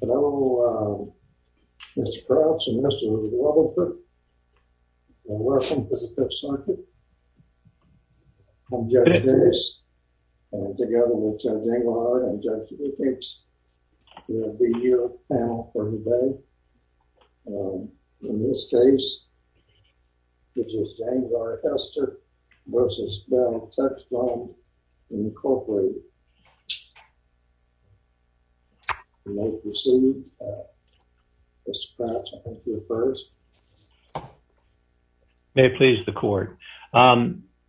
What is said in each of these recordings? Hello, Mr. Crouch and Mr. Rubenwald. Welcome to the Fifth Circuit. I'm Judge Davis, together with Judge Engelhardt and Judge Lippincz, who will be your panel for today. In this case, it is James R. Hester v. Bell-Textron, Incorporated. You may proceed, Mr. Crouch, I think you're first. James R. Hester v. Bell-Textron May it please the court.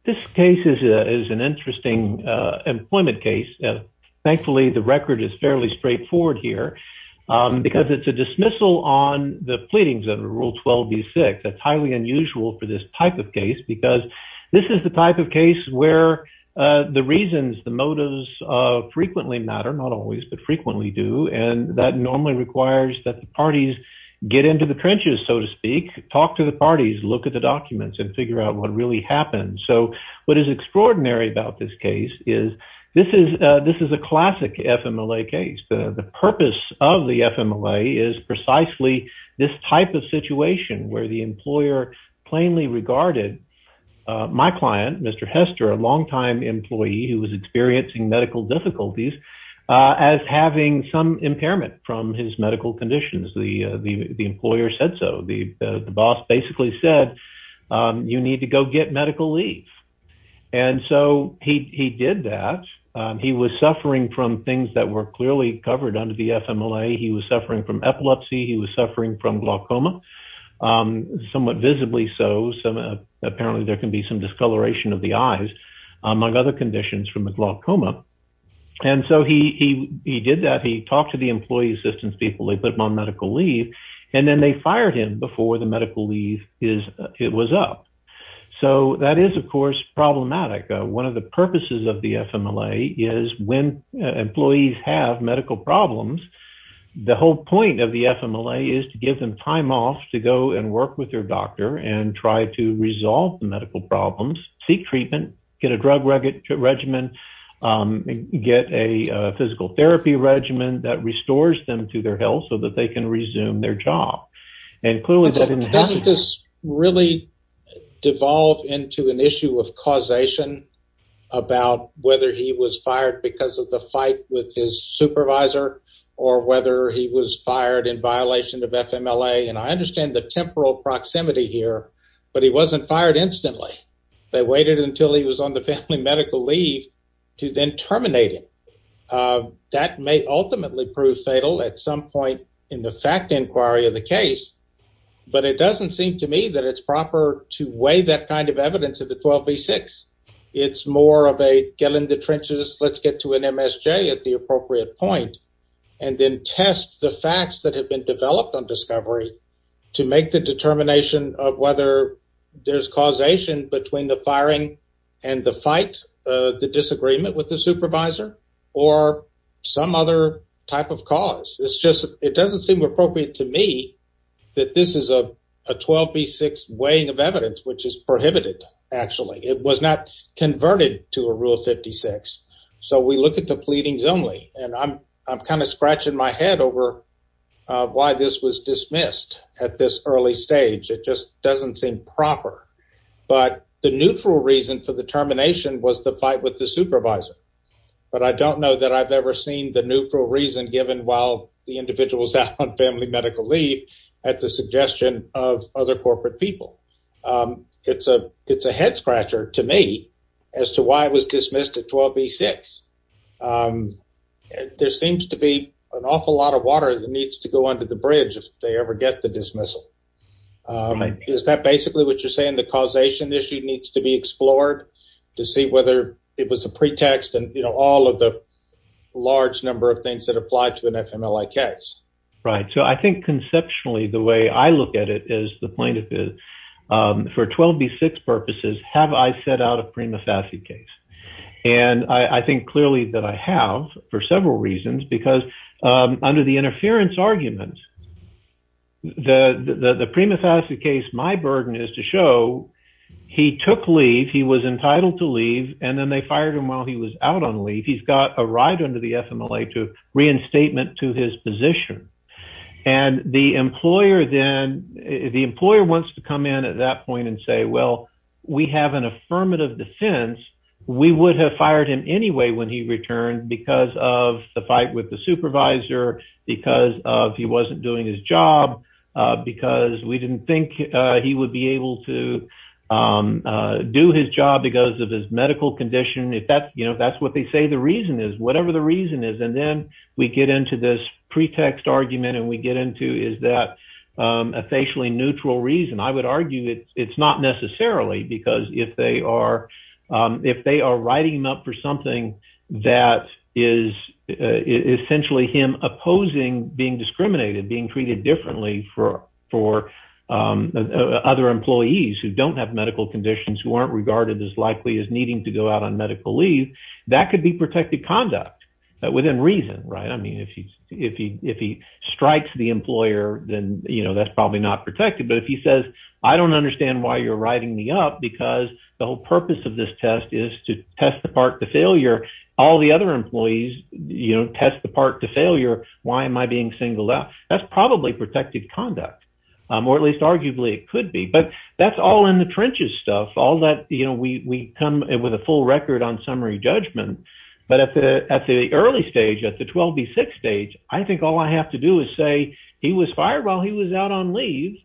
This case is an interesting employment case. Thankfully, the record is fairly straightforward here, because it's a dismissal on the pleadings of Rule 12b-6. That's highly unusual for this type of case, because this is the type of case where the reasons, the motives frequently matter, not always, but frequently do, and that normally requires that the parties get into the trenches, so to speak, talk to the parties, look at the documents, and figure out what really happened. So what is extraordinary about this case is this is a classic FMLA case. The purpose of the FMLA is precisely this type of situation, where the employer plainly regarded my client, Mr. Hester, a longtime employee who was experiencing medical difficulties, as having some impairment from his medical conditions. The employer said so. The boss basically said, you need to go get medical leave. And so he did that. He was suffering from things that were clearly covered under the FMLA. He was suffering from epilepsy. He was suffering from glaucoma, somewhat visibly so. Apparently, there can be some discoloration of the eyes, among other conditions, from the glaucoma. And so he did that. He talked to the employee assistance people. They put him on medical leave, and then they fired him before the medical leave was up. So that is, of course, problematic. One of the purposes of the FMLA is when employees have medical problems, the whole point of the FMLA is to give them time off to go and work with their doctor and try to resolve the medical problems, seek treatment, get a drug regimen, get a physical therapy regimen that restores them to their health so that they can resume their job. But doesn't this really devolve into an issue of causation about whether he was fired because of the fight with his supervisor or whether he was fired in violation of FMLA? And I understand the temporal proximity here, but he wasn't fired instantly. They waited until he was on the family medical leave to then terminate him. That may ultimately prove fatal at some point in the fact inquiry of the case, but it doesn't seem to me that it's proper to weigh that kind of evidence at the 12B6. It's more of a get in the trenches, let's get to an MSJ at the appropriate point, and then test the facts that have been developed on discovery to make the determination of whether there's causation between the firing and the fight, the disagreement with the supervisor. Or some other type of cause. It's just it doesn't seem appropriate to me that this is a 12B6 weighing of evidence, which is prohibited, actually. It was not converted to a rule of 56. So we look at the pleadings only, and I'm kind of scratching my head over why this was dismissed at this early stage. It just doesn't seem proper. But the neutral reason for the termination was the fight with the supervisor. But I don't know that I've ever seen the neutral reason given while the individual was out on family medical leave at the suggestion of other corporate people. It's a it's a head scratcher to me as to why it was dismissed at 12B6. There seems to be an awful lot of water that needs to go under the bridge if they ever get the dismissal. Is that basically what you're saying, the causation issue needs to be explored to see whether it was a pretext and all of the large number of things that apply to an FMLA case? Right. So I think conceptually, the way I look at it is the plaintiff is for 12B6 purposes. Have I set out a prima facie case? And I think clearly that I have for several reasons, because under the interference arguments, the prima facie case, my burden is to show he took leave. He was entitled to leave. And then they fired him while he was out on leave. He's got a right under the FMLA to reinstatement to his position. And the employer then the employer wants to come in at that point and say, well, we have an affirmative defense. We would have fired him anyway when he returned because of the fight with the supervisor, because he wasn't doing his job, because we didn't think he would be able to do his job because of his medical condition. If that's what they say the reason is, whatever the reason is, and then we get into this pretext argument and we get into is that a facially neutral reason, I would argue it's not necessarily because if they are writing him up for something that is essentially him opposing being discriminated, being treated differently for other employees who don't have medical conditions, who aren't regarded as likely as needing to go out on medical leave. That could be protected conduct within reason. Right. I mean, if he if he if he strikes the employer, then, you know, that's probably not protected. But if he says, I don't understand why you're writing me up, because the whole purpose of this test is to test the part to failure. All the other employees, you know, test the part to failure. Why am I being singled out? That's probably protected conduct, or at least arguably it could be. But that's all in the trenches stuff. All that, you know, we come with a full record on summary judgment. But at the at the early stage, at the 12 B6 stage, I think all I have to do is say he was fired while he was out on leave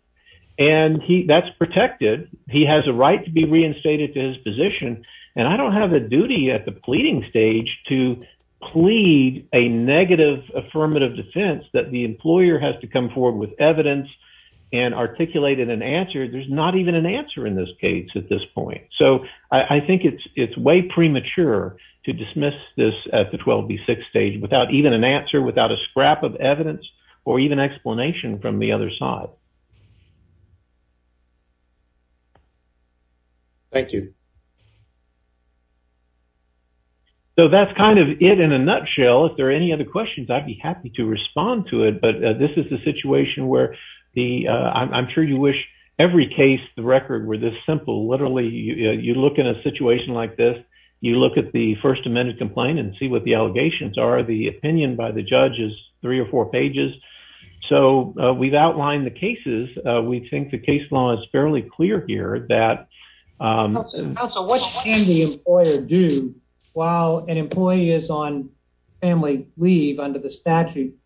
and he that's protected. He has a right to be reinstated to his position. And I don't have a duty at the pleading stage to plead a negative affirmative defense that the employer has to come forward with evidence and articulated an answer. There's not even an answer in this case at this point. So I think it's it's way premature to dismiss this at the 12 B6 stage without even an answer, without a scrap of evidence or even explanation from the other side. Thank you. So that's kind of it in a nutshell. If there are any other questions, I'd be happy to respond to it. But this is the situation where the I'm sure you wish every case the record were this simple. Literally, you look in a situation like this, you look at the First Amendment complaint and see what the allegations are. The opinion by the judge is three or four pages. So we've outlined the cases. We think the case law is fairly clear here that So what can the employer do while an employee is on family leave under the statute?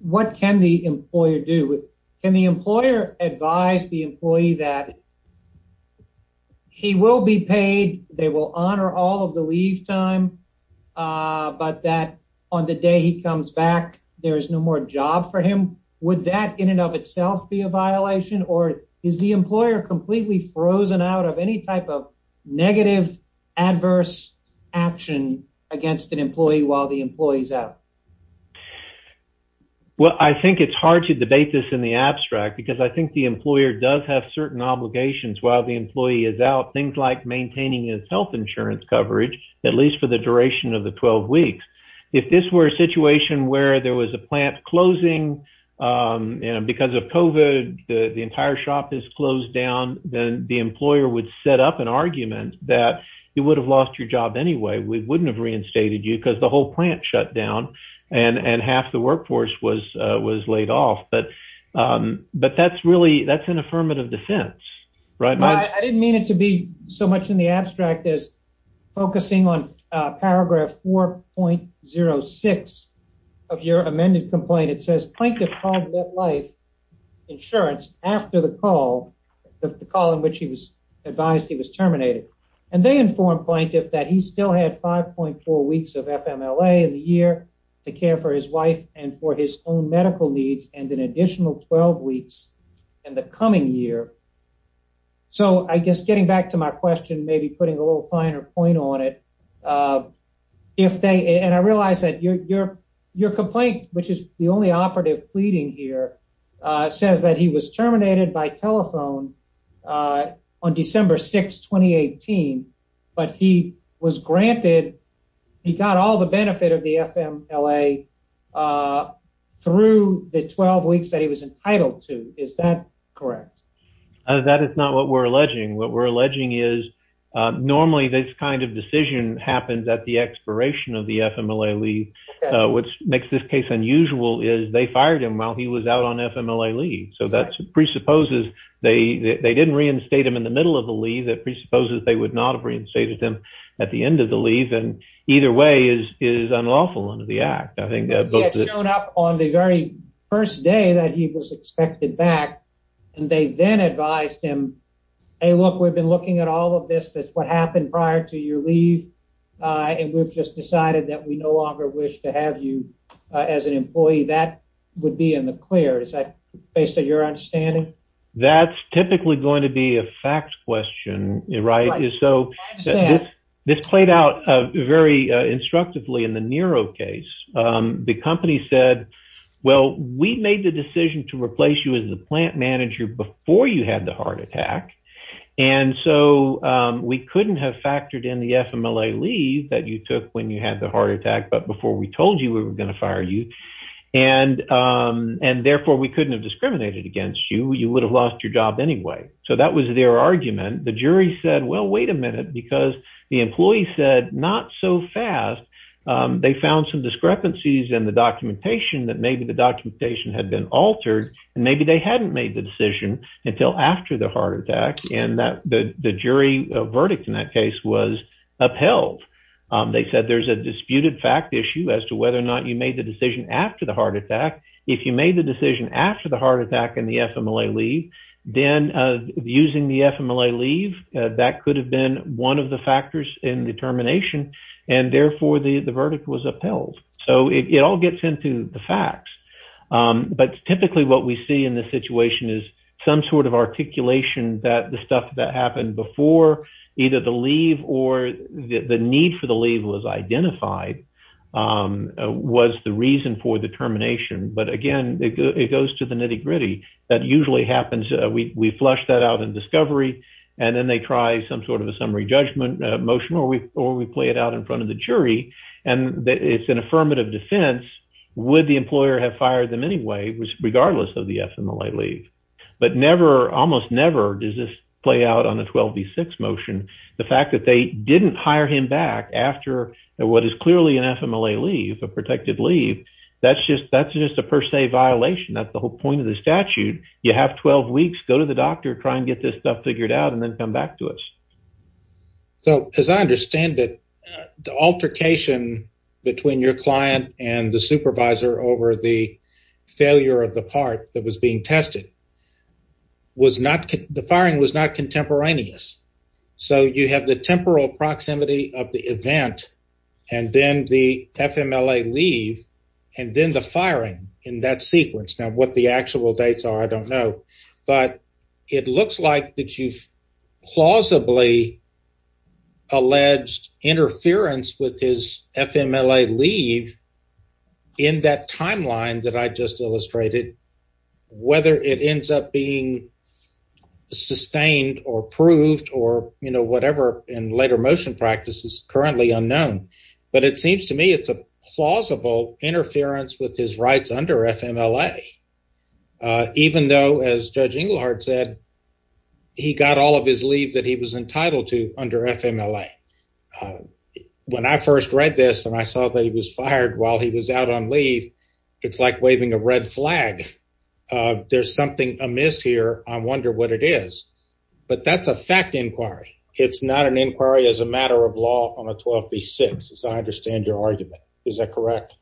What can the employer do? Can the employer advise the employee that he will be paid? They will honor all of the leave time, but that on the day he comes back, there is no more job for him. Would that in and of itself be a violation or is the employer completely frozen out of any type of negative adverse action against an employee while the employee is out? Well, I think it's hard to debate this in the abstract because I think the employer does have certain obligations while the employee is out. Things like maintaining his health insurance coverage, at least for the duration of the 12 weeks. If this were a situation where there was a plant closing because of COVID, the entire shop is closed down, then the employer would set up an argument that you would have lost your job anyway. We wouldn't have reinstated you because the whole plant shut down and half the workforce was laid off. But that's really an affirmative defense. I didn't mean it to be so much in the abstract as focusing on paragraph 4.06 of your amended complaint. It says plaintiff called MetLife Insurance after the call in which he was advised he was terminated. And they informed plaintiff that he still had 5.4 weeks of FMLA in the year to care for his wife and for his own medical needs and an additional 12 weeks in the coming year. So I guess getting back to my question, maybe putting a little finer point on it, and I realize that your complaint, which is the only operative pleading here, says that he was terminated by telephone on December 6, 2018, but he got all the benefit of the FMLA through the 12 weeks that he was entitled to. Is that correct? That is not what we're alleging. What we're alleging is normally this kind of decision happens at the expiration of the FMLA leave. What makes this case unusual is they fired him while he was out on FMLA leave. So that presupposes they didn't reinstate him in the middle of the leave. That presupposes they would not have reinstated him at the end of the leave. And either way is unlawful under the act. He had shown up on the very first day that he was expected back. And they then advised him, hey, look, we've been looking at all of this. That's what happened prior to your leave. And we've just decided that we no longer wish to have you as an employee. That would be in the clear. Is that based on your understanding? That's typically going to be a fact question. Right. So this played out very instructively in the Nero case. The company said, well, we made the decision to replace you as the plant manager before you had the heart attack. And so we couldn't have factored in the FMLA leave that you took when you had the heart attack. But before we told you we were going to fire you and and therefore we couldn't have discriminated against you. You would have lost your job anyway. So that was their argument. The jury said, well, wait a minute, because the employee said not so fast. They found some discrepancies in the documentation that maybe the documentation had been altered and maybe they hadn't made the decision until after the heart attack and that the jury verdict in that case was upheld. They said there's a disputed fact issue as to whether or not you made the decision after the heart attack. If you made the decision after the heart attack and the FMLA leave, then using the FMLA leave, that could have been one of the factors in determination and therefore the verdict was upheld. So it all gets into the facts. But typically what we see in this situation is some sort of articulation that the stuff that happened before either the leave or the need for the leave was identified was the reason for the termination. But again, it goes to the nitty gritty that usually happens. We flush that out in discovery and then they try some sort of a summary judgment motion or we or we play it out in front of the jury. And it's an affirmative defense. Would the employer have fired them anyway, regardless of the FMLA leave? But never, almost never does this play out on a 12 v six motion. The fact that they didn't hire him back after what is clearly an FMLA leave, a protected leave. That's just that's just a per se violation. That's the whole point of the statute. You have 12 weeks. Go to the doctor, try and get this stuff figured out and then come back to us. So as I understand it, the altercation between your client and the supervisor over the failure of the part that was being tested was not the firing was not contemporaneous. So you have the temporal proximity of the event and then the FMLA leave and then the firing in that sequence. Now what the actual dates are, I don't know. But it looks like that you've plausibly alleged interference with his FMLA leave in that timeline that I just illustrated, whether it ends up being sustained or approved or whatever in later motion practices currently unknown. But it seems to me it's a plausible interference with his rights under FMLA, even though, as Judge Inglehart said, he got all of his leave that he was entitled to under FMLA. When I first read this and I saw that he was fired while he was out on leave, it's like waving a red flag. There's something amiss here. I wonder what it is. But that's a fact inquiry. It's not an inquiry as a matter of law on a 12 v six. I understand your argument. Is that correct?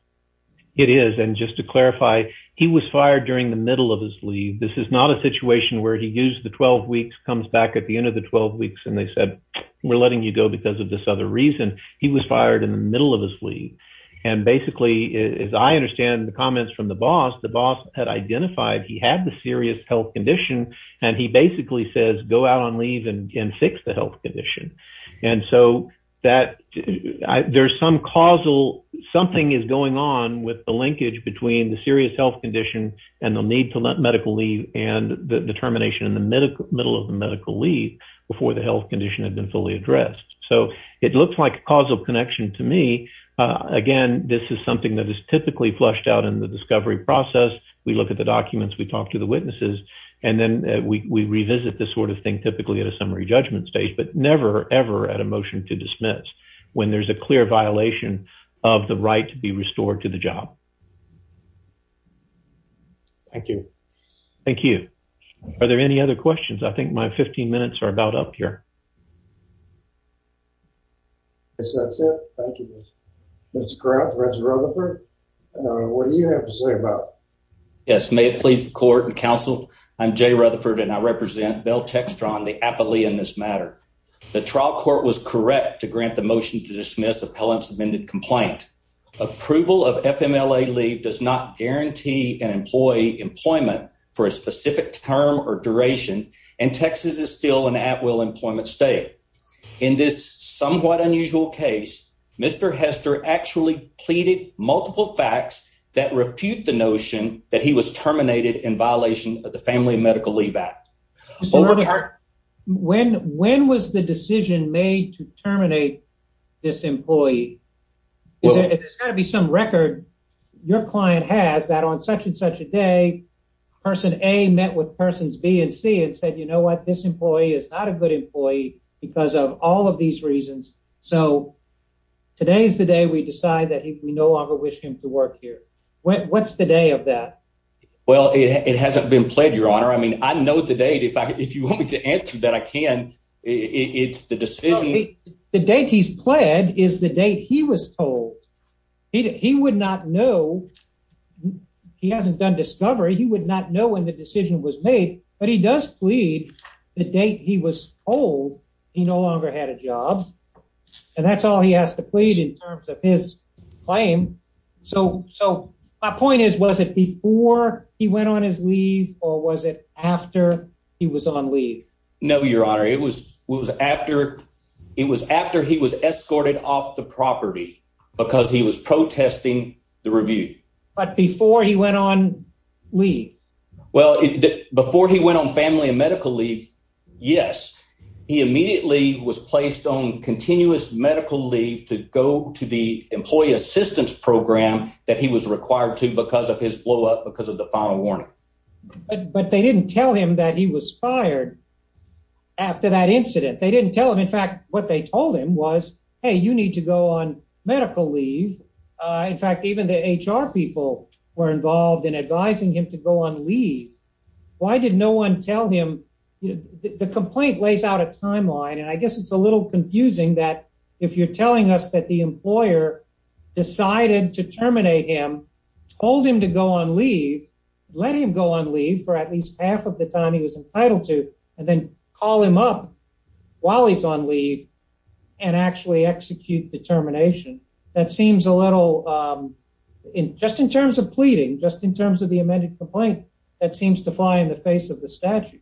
There's some causal something is going on with the linkage between the serious health condition and the need to let medical leave and the termination in the middle of the medical leave before the health condition had been fully addressed. So it looks like a causal connection to me. Again, this is something that is typically flushed out in the discovery process. We look at the documents, we talk to the witnesses, and then we revisit this sort of thing, typically at a summary judgment stage, but never, ever at a motion to dismiss when there's a clear violation of the right to be restored to the job. Thank you. Thank you. Are there any other questions? I think my 15 minutes are about up here. Yes, that's it. Thank you. That's correct. Reggie Rutherford. What do you have to say about? Yes. May it please the court and counsel. I'm Jay Rutherford and I represent Bill Textron, the aptly in this matter. The trial court was correct to grant the motion to dismiss appellants amended complaint. Approval of FMLA leave does not guarantee an employee employment for a specific term or duration and Texas is still an at will employment state. In this somewhat unusual case, Mr Hester actually pleaded multiple facts that refute the notion that he was terminated in violation of the Family Medical Leave Act. When when was the decision made to terminate this employee? There's got to be some record your client has that on such and such a day, person a met with persons B and C and said, you know what? This employee is not a good employee because of all of these reasons. So today's the day we decide that we no longer wish him to work here. What's the day of that? Well, it hasn't been pled your honor. I mean, I know the date. If you want me to answer that, I can. It's the decision. The date he's pled is the date he was told he would not know he hasn't done discovery. He would not know when the decision was made, but he does plead the date he was old. He no longer had a job. And that's all he has to plead in terms of his claim. So so my point is, was it before he went on his leave or was it after he was on leave? No, your honor. It was it was after it was after he was escorted off the property because he was protesting the review. But before he went on leave. Well, before he went on family and medical leave. Yes, he immediately was placed on continuous medical leave to go to the employee assistance program that he was required to because of his blow up because of the final warning. But they didn't tell him that he was fired after that incident. They didn't tell him. In fact, what they told him was, hey, you need to go on medical leave. In fact, even the HR people were involved in advising him to go on leave. Why did no one tell him the complaint lays out a timeline? And I guess it's a little confusing that if you're telling us that the employer decided to terminate him, told him to go on leave, let him go on leave for at least half of the time he was entitled to. And then call him up while he's on leave and actually execute determination. That seems a little, um, just in terms of pleading, just in terms of the amended complaint that seems to fly in the face of the statute.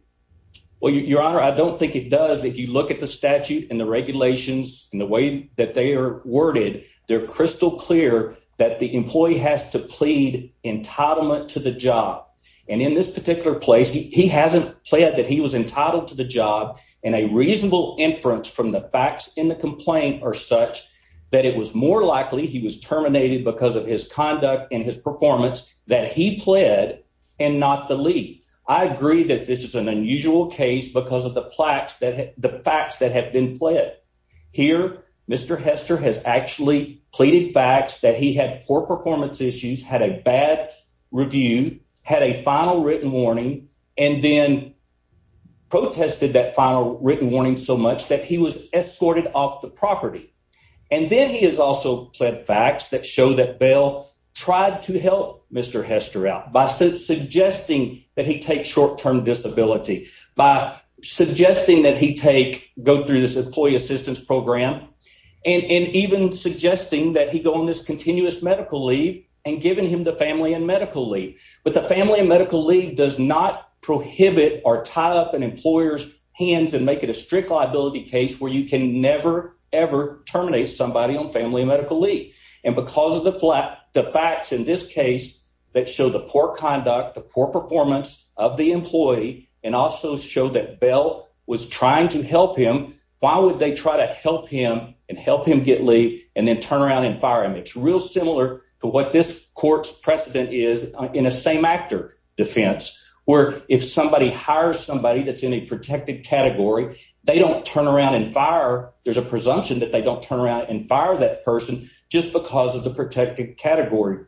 Well, your honor, I don't think it does. If you look at the statute and the regulations and the way that they are worded, they're crystal clear that the employee has to plead entitlement to the job. And in this particular place, he hasn't played that he was entitled to the job and a reasonable inference from the facts in the complaint or such that it was more likely he was terminated because of his conduct and his performance that he pled and not the league. I agree that this is an unusual case because of the plaques that the facts that have been played here. Mr. Hester has actually pleaded facts that he had poor performance issues, had a bad review, had a final written warning, and then protested that final written warning so much that he was escorted off the property. And then he has also pled facts that show that bail tried to help Mr. Hester out by suggesting that he take short term disability by suggesting that he take go through this employee assistance program and even suggesting that he go on this continuous medical leave and giving him the family and medical leave. But the family medical leave does not prohibit or tie up an employer's hands and make it a strict liability case where you can never, ever terminate somebody on family medical leave. And because of the flat, the facts in this case that show the poor conduct, the poor performance of the employee and also show that bail was trying to help him. Why would they try to help him and help him get laid and then turn around and fire him? It's real similar to what this court's precedent is in a same actor defense, where if somebody hire somebody that's in a protected category, they don't turn around and fire. There's a presumption that they don't turn around and fire that person just because of the protected category.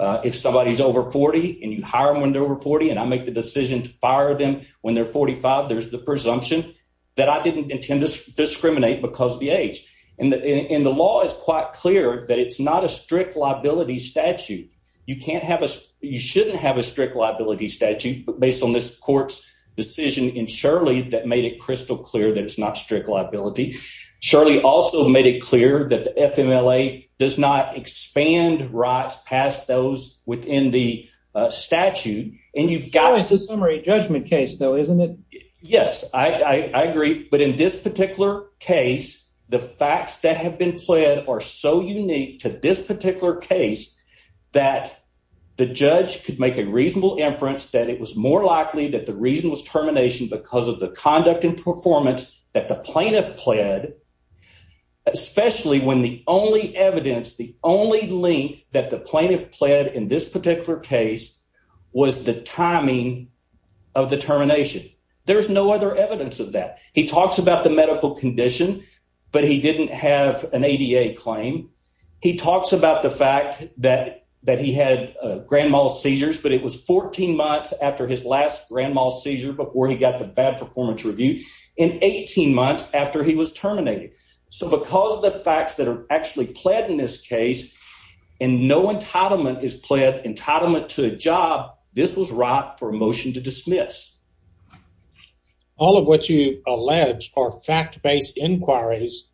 If somebody is over 40 and you hire them when they're over 40 and I make the decision to fire them when they're 45, there's the presumption that I didn't intend to discriminate because of the age. And the law is quite clear that it's not a strict liability statute. You shouldn't have a strict liability statute based on this court's decision in Shirley that made it crystal clear that it's not strict liability. Surely also made it clear that the FMLA does not expand rights past those within the statute. And you've got to summary judgment case, though, isn't it? Yes, I agree. But in this particular case, the facts that have been played are so unique to this particular case. That the judge could make a reasonable inference that it was more likely that the reason was termination because of the conduct and performance that the plaintiff pled, especially when the only evidence, the only link that the plaintiff pled in this particular case was the timing of the termination. There's no other evidence of that. He talks about the medical condition, but he didn't have an ADA claim. He talks about the fact that that he had grand mal seizures, but it was 14 months after his last grand mal seizure before he got the bad performance review in 18 months after he was terminated. All of what you allege are fact based inquiries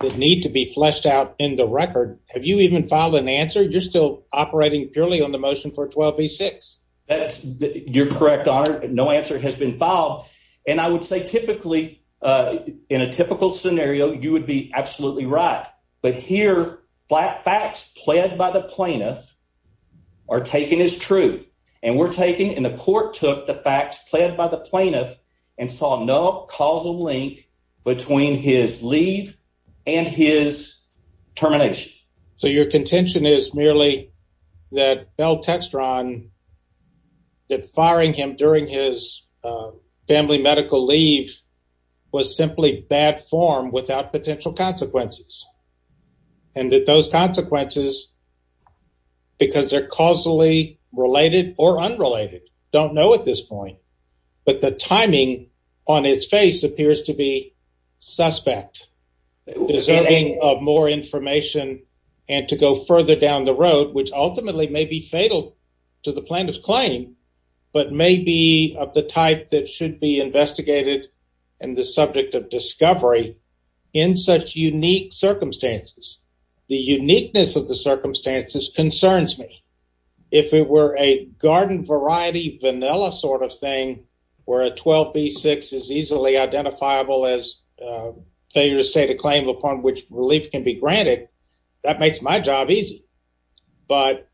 that need to be fleshed out in the record. Have you even filed an answer? You're still operating purely on the motion for 12 v six. That's your correct honor. No answer has been filed. And I would say, typically, in a typical scenario, you would be absolutely right. But here flat facts pled by the plaintiff are taken is true. And we're taking in the court took the facts pled by the plaintiff and saw no causal link between his leave and his termination. So your contention is merely that Bell Textron that firing him during his family medical leave was simply bad form without potential consequences. And that those consequences, because they're causally related or unrelated, don't know at this point. But the timing on its face appears to be suspect. Deserving of more information and to go further down the road, which ultimately may be fatal to the plaintiff's claim, but maybe of the type that should be investigated and the subject of discovery in such unique circumstances. But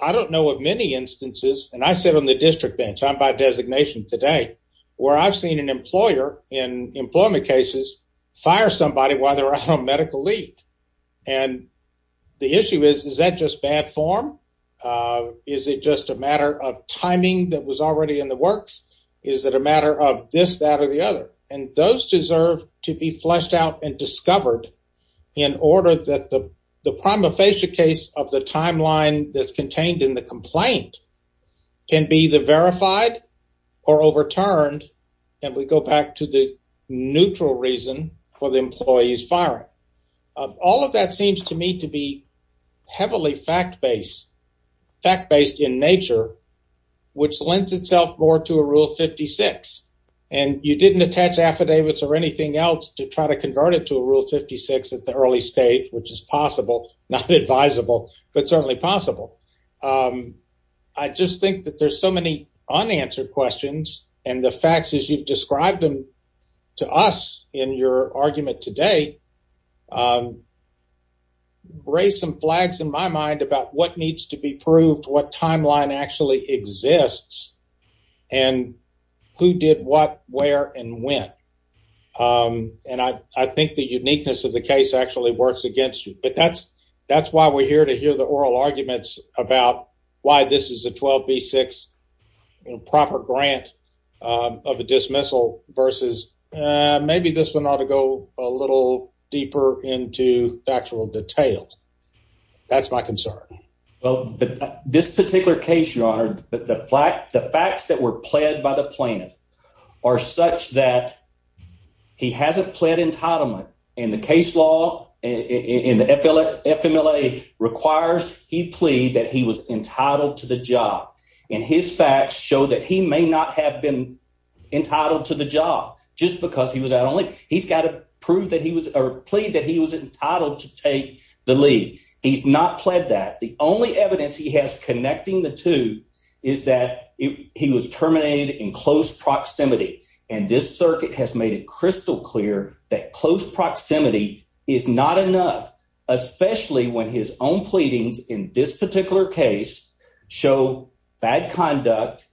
I don't know of many instances, and I sit on the district bench. I'm by designation today where I've seen an employer in employment cases fire somebody while they're out on medical leave. And the issue is, is that just bad form? Is it just a matter of timing that was already in the works? Is it a matter of this, that or the other? And those deserve to be fleshed out and discovered in order that the prima facie case of the timeline that's contained in the complaint can be the verified or overturned. And we go back to the neutral reason for the employees firing. All of that seems to me to be heavily fact-based, fact-based in nature, which lends itself more to a Rule 56. And you didn't attach affidavits or anything else to try to convert it to a Rule 56 at the early stage, which is possible, not advisable, but certainly possible. I just think that there's so many unanswered questions, and the facts as you've described them to us in your argument today raise some flags in my mind about what needs to be proved, what timeline actually exists, and who did what, where, and when. And I think the uniqueness of the case actually works against you. But that's why we're here, to hear the oral arguments about why this is a 12B6 proper grant of a dismissal versus maybe this one ought to go a little deeper into factual detail. That's my concern. Well, this particular case, Your Honor, the facts that were pled by the plaintiff are such that he hasn't pled entitlement. And the case law in the FMLA requires he plead that he was entitled to the job. And his facts show that he may not have been entitled to the job just because he was at only—he's got to prove that he was—or plead that he was entitled to take the leave. He's not pled that. The only evidence he has connecting the two is that he was terminated in close proximity. And this circuit has made it crystal clear that close proximity is not enough, especially when his own pleadings in this particular case show bad conduct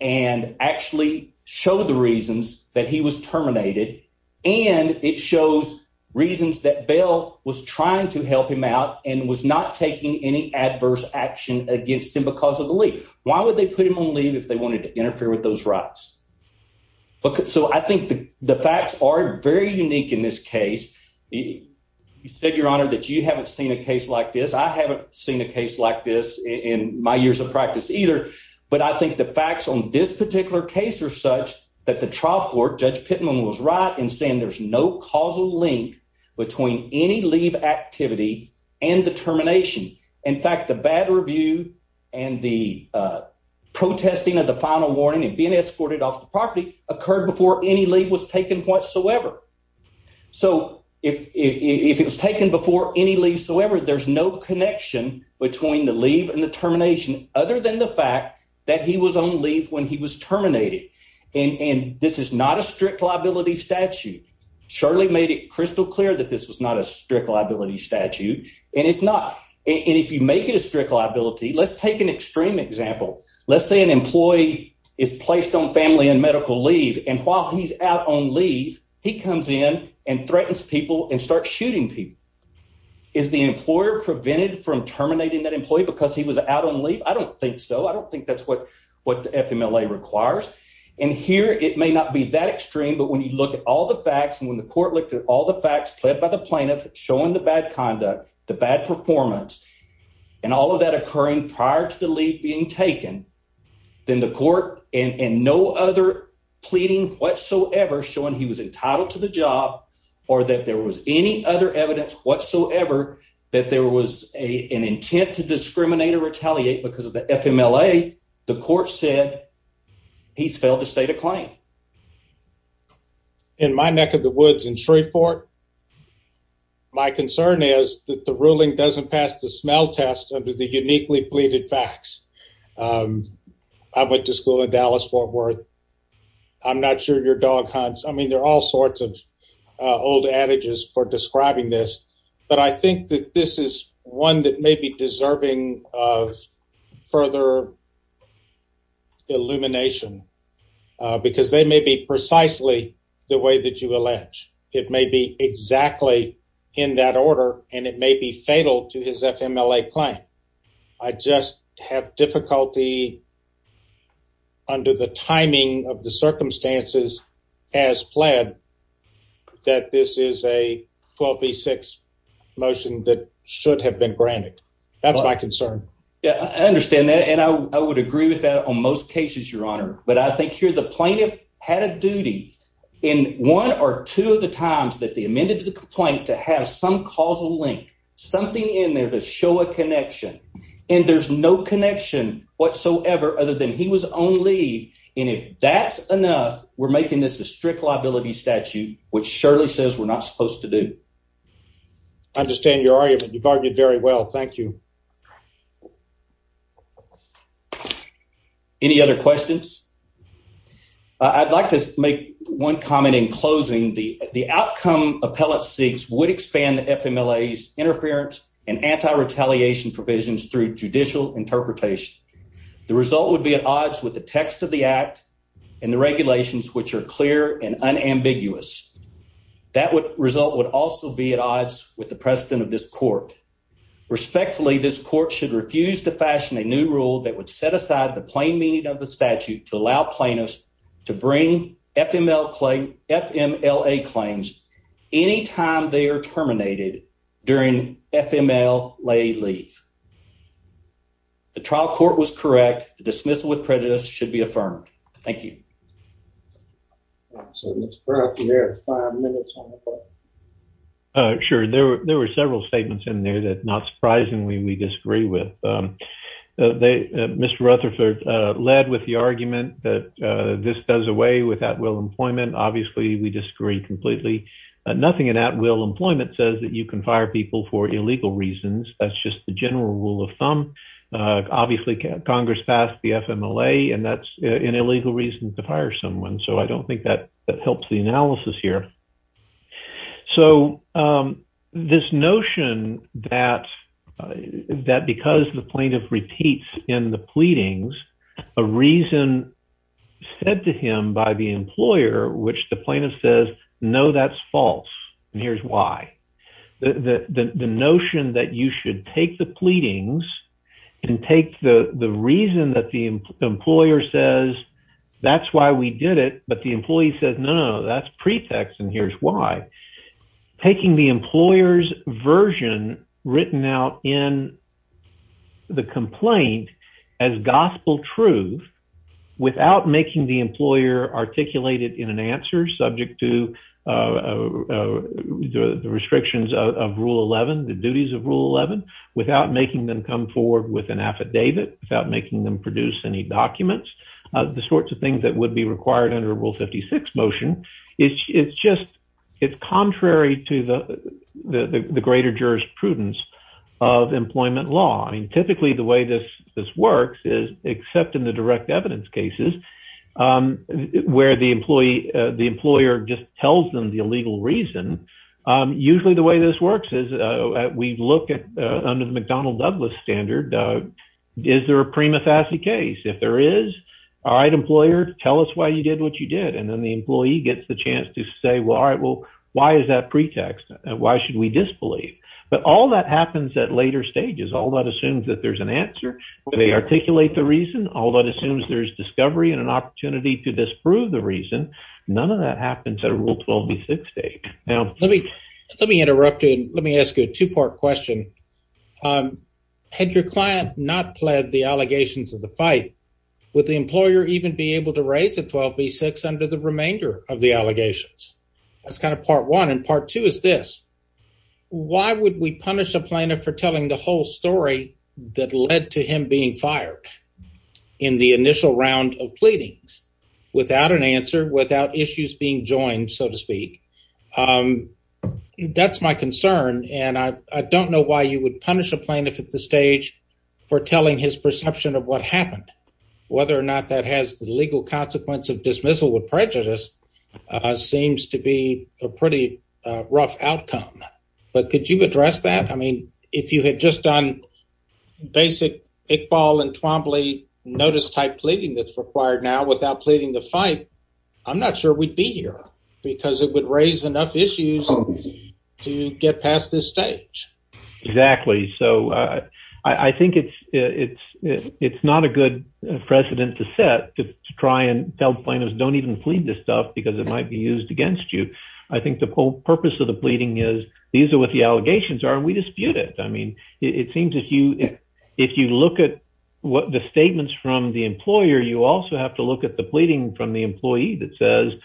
and actually show the reasons that he was terminated, and it shows reasons that Bell was trying to help him out and was not taking any adverse action against him because of the leave. Why would they put him on leave if they wanted to interfere with those rights? So I think the facts are very unique in this case. You said, Your Honor, that you haven't seen a case like this. I haven't seen a case like this in my years of practice either. But I think the facts on this particular case are such that the trial court, Judge Pittman, was right in saying there's no causal link between any leave activity and the termination. In fact, the bad review and the protesting of the final warning and being escorted off the property occurred before any leave was taken whatsoever. So if it was taken before any leave so ever, there's no connection between the leave and the termination other than the fact that he was on leave when he was terminated. And this is not a strict liability statute. Shirley made it crystal clear that this was not a strict liability statute. And if you make it a strict liability, let's take an extreme example. Let's say an employee is placed on family and medical leave, and while he's out on leave, he comes in and threatens people and starts shooting people. Is the employer prevented from terminating that employee because he was out on leave? I don't think so. I don't think that's what the FMLA requires. And here it may not be that extreme, but when you look at all the facts and when the court looked at all the facts pled by the plaintiff showing the bad conduct, the bad performance, and all of that occurring prior to the leave being taken, then the court and no other pleading whatsoever showing he was entitled to the job or that there was any other evidence whatsoever that there was an intent to discriminate or retaliate because of the FMLA, the court said he's failed to state a claim. In my neck of the woods in Shreveport, my concern is that the ruling doesn't pass the smell test under the uniquely pleaded facts. I went to school in Dallas-Fort Worth. I'm not sure your dog hunts. I mean, there are all sorts of old adages for describing this. But I think that this is one that may be deserving of further illumination because they may be precisely the way that you allege. It may be exactly in that order and it may be fatal to his FMLA claim. I just have difficulty under the timing of the circumstances as pled that this is a 12B6 motion that should have been granted. That's my concern. Yeah, I understand that. And I would agree with that on most cases, Your Honor. But I think here the plaintiff had a duty in one or two of the times that they amended the complaint to have some causal link, something in there to show a connection. And there's no connection whatsoever other than he was on leave. And if that's enough, we're making this a strict liability statute, which surely says we're not supposed to do. I understand your argument. You've argued very well. Thank you. Any other questions? I'd like to make one comment in closing. The outcome appellate seeks would expand the FMLA's interference and anti-retaliation provisions through judicial interpretation. The result would be at odds with the text of the act and the regulations, which are clear and unambiguous. That result would also be at odds with the precedent of this court. Respectfully, this court should refuse to fashion a new rule that would set aside the plain meaning of the statute to allow plaintiffs to bring FMLA claims any time they are terminated during FMLA leave. The trial court was correct. The dismissal with prejudice should be affirmed. Thank you. Sure, there were several statements in there that not surprisingly, we disagree with. Mr. Rutherford led with the argument that this does away with at will employment. Obviously, we disagree completely. Nothing in at will employment says that you can fire people for illegal reasons. That's just the general rule of thumb. Obviously, Congress passed the FMLA and that's an illegal reason to fire someone. So I don't think that that helps the analysis here. So this notion that because the plaintiff repeats in the pleadings a reason said to him by the employer, which the plaintiff says, no, that's false. Here's why. The notion that you should take the pleadings and take the reason that the employer says, that's why we did it. But the employee says, no, that's pretext. And here's why. Taking the employer's version written out in the complaint as gospel truth without making the employer articulate it in an answer subject to the restrictions of Rule 11, the duties of Rule 11, without making them come forward with an affidavit, without making them produce any documents, the sorts of things that would be required under Rule 56 motion. It's just it's contrary to the greater jurisprudence of employment law. I mean, typically the way this this works is except in the direct evidence cases where the employee, the employer just tells them the illegal reason. Usually the way this works is we look at under the McDonnell Douglas standard. Is there a prima facie case? If there is. All right, employer, tell us why you did what you did. And then the employee gets the chance to say, well, all right, well, why is that pretext? Why should we disbelieve? But all that happens at later stages. All that assumes that there's an answer. They articulate the reason. All that assumes there's discovery and an opportunity to disprove the reason. None of that happens at a Rule 12B6 date. Let me interrupt you and let me ask you a two part question. Had your client not pled the allegations of the fight, would the employer even be able to raise a 12B6 under the remainder of the allegations? That's kind of part one. And part two is this. Why would we punish a plaintiff for telling the whole story that led to him being fired in the initial round of pleadings without an answer, without issues being joined, so to speak? That's my concern. And I don't know why you would punish a plaintiff at this stage for telling his perception of what happened. Whether or not that has the legal consequence of dismissal with prejudice seems to be a pretty rough outcome. But could you address that? I mean, if you had just done basic Iqbal and Twombly notice type pleading that's required now without pleading the fight, I'm not sure we'd be here because it would raise enough issues to get past this stage. Exactly. So I think it's not a good precedent to set to try and tell plaintiffs don't even plead this stuff because it might be used against you. I think the whole purpose of the pleading is these are what the allegations are and we dispute it. I mean, it seems if you look at what the statements from the employer, you also have to look at the pleading from the employee that says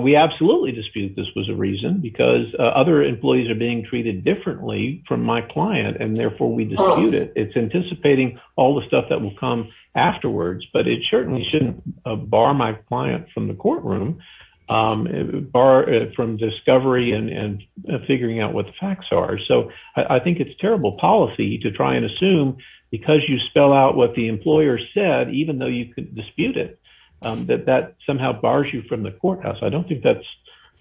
we absolutely dispute this was a reason because other employees are being treated differently from my client and therefore we dispute it. It's anticipating all the stuff that will come afterwards, but it certainly shouldn't bar my client from the courtroom bar from discovery and figuring out what the facts are. So I think it's terrible policy to try and assume because you spell out what the employer said, even though you could dispute it, that that somehow bars you from the courthouse. I don't think that's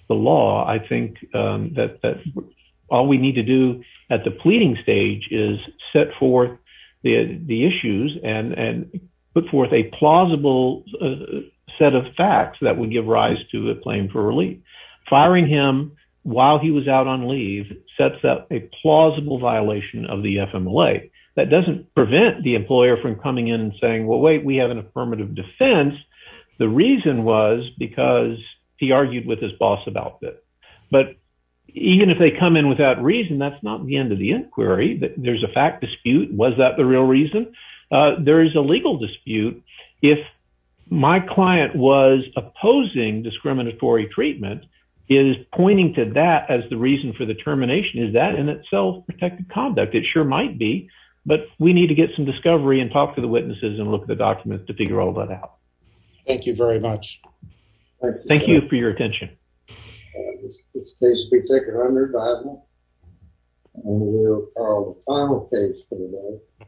the law. I think that all we need to do at the pleading stage is set forth the issues and put forth a plausible set of facts that would give rise to a claim for relief. Firing him while he was out on leave sets up a plausible violation of the FMLA. That doesn't prevent the employer from coming in and saying, well, wait, we have an affirmative defense. The reason was because he argued with his boss about this. But even if they come in without reason, that's not the end of the inquiry. There's a fact dispute. Was that the real reason? There is a legal dispute. If my client was opposing discriminatory treatment, is pointing to that as the reason for the termination. Is that in itself protected conduct? It sure might be, but we need to get some discovery and talk to the witnesses and look at the documents to figure all that out. Thank you very much. Thank you for your attention. It's a case to be taken under the Bible. And we'll call the final case for the day.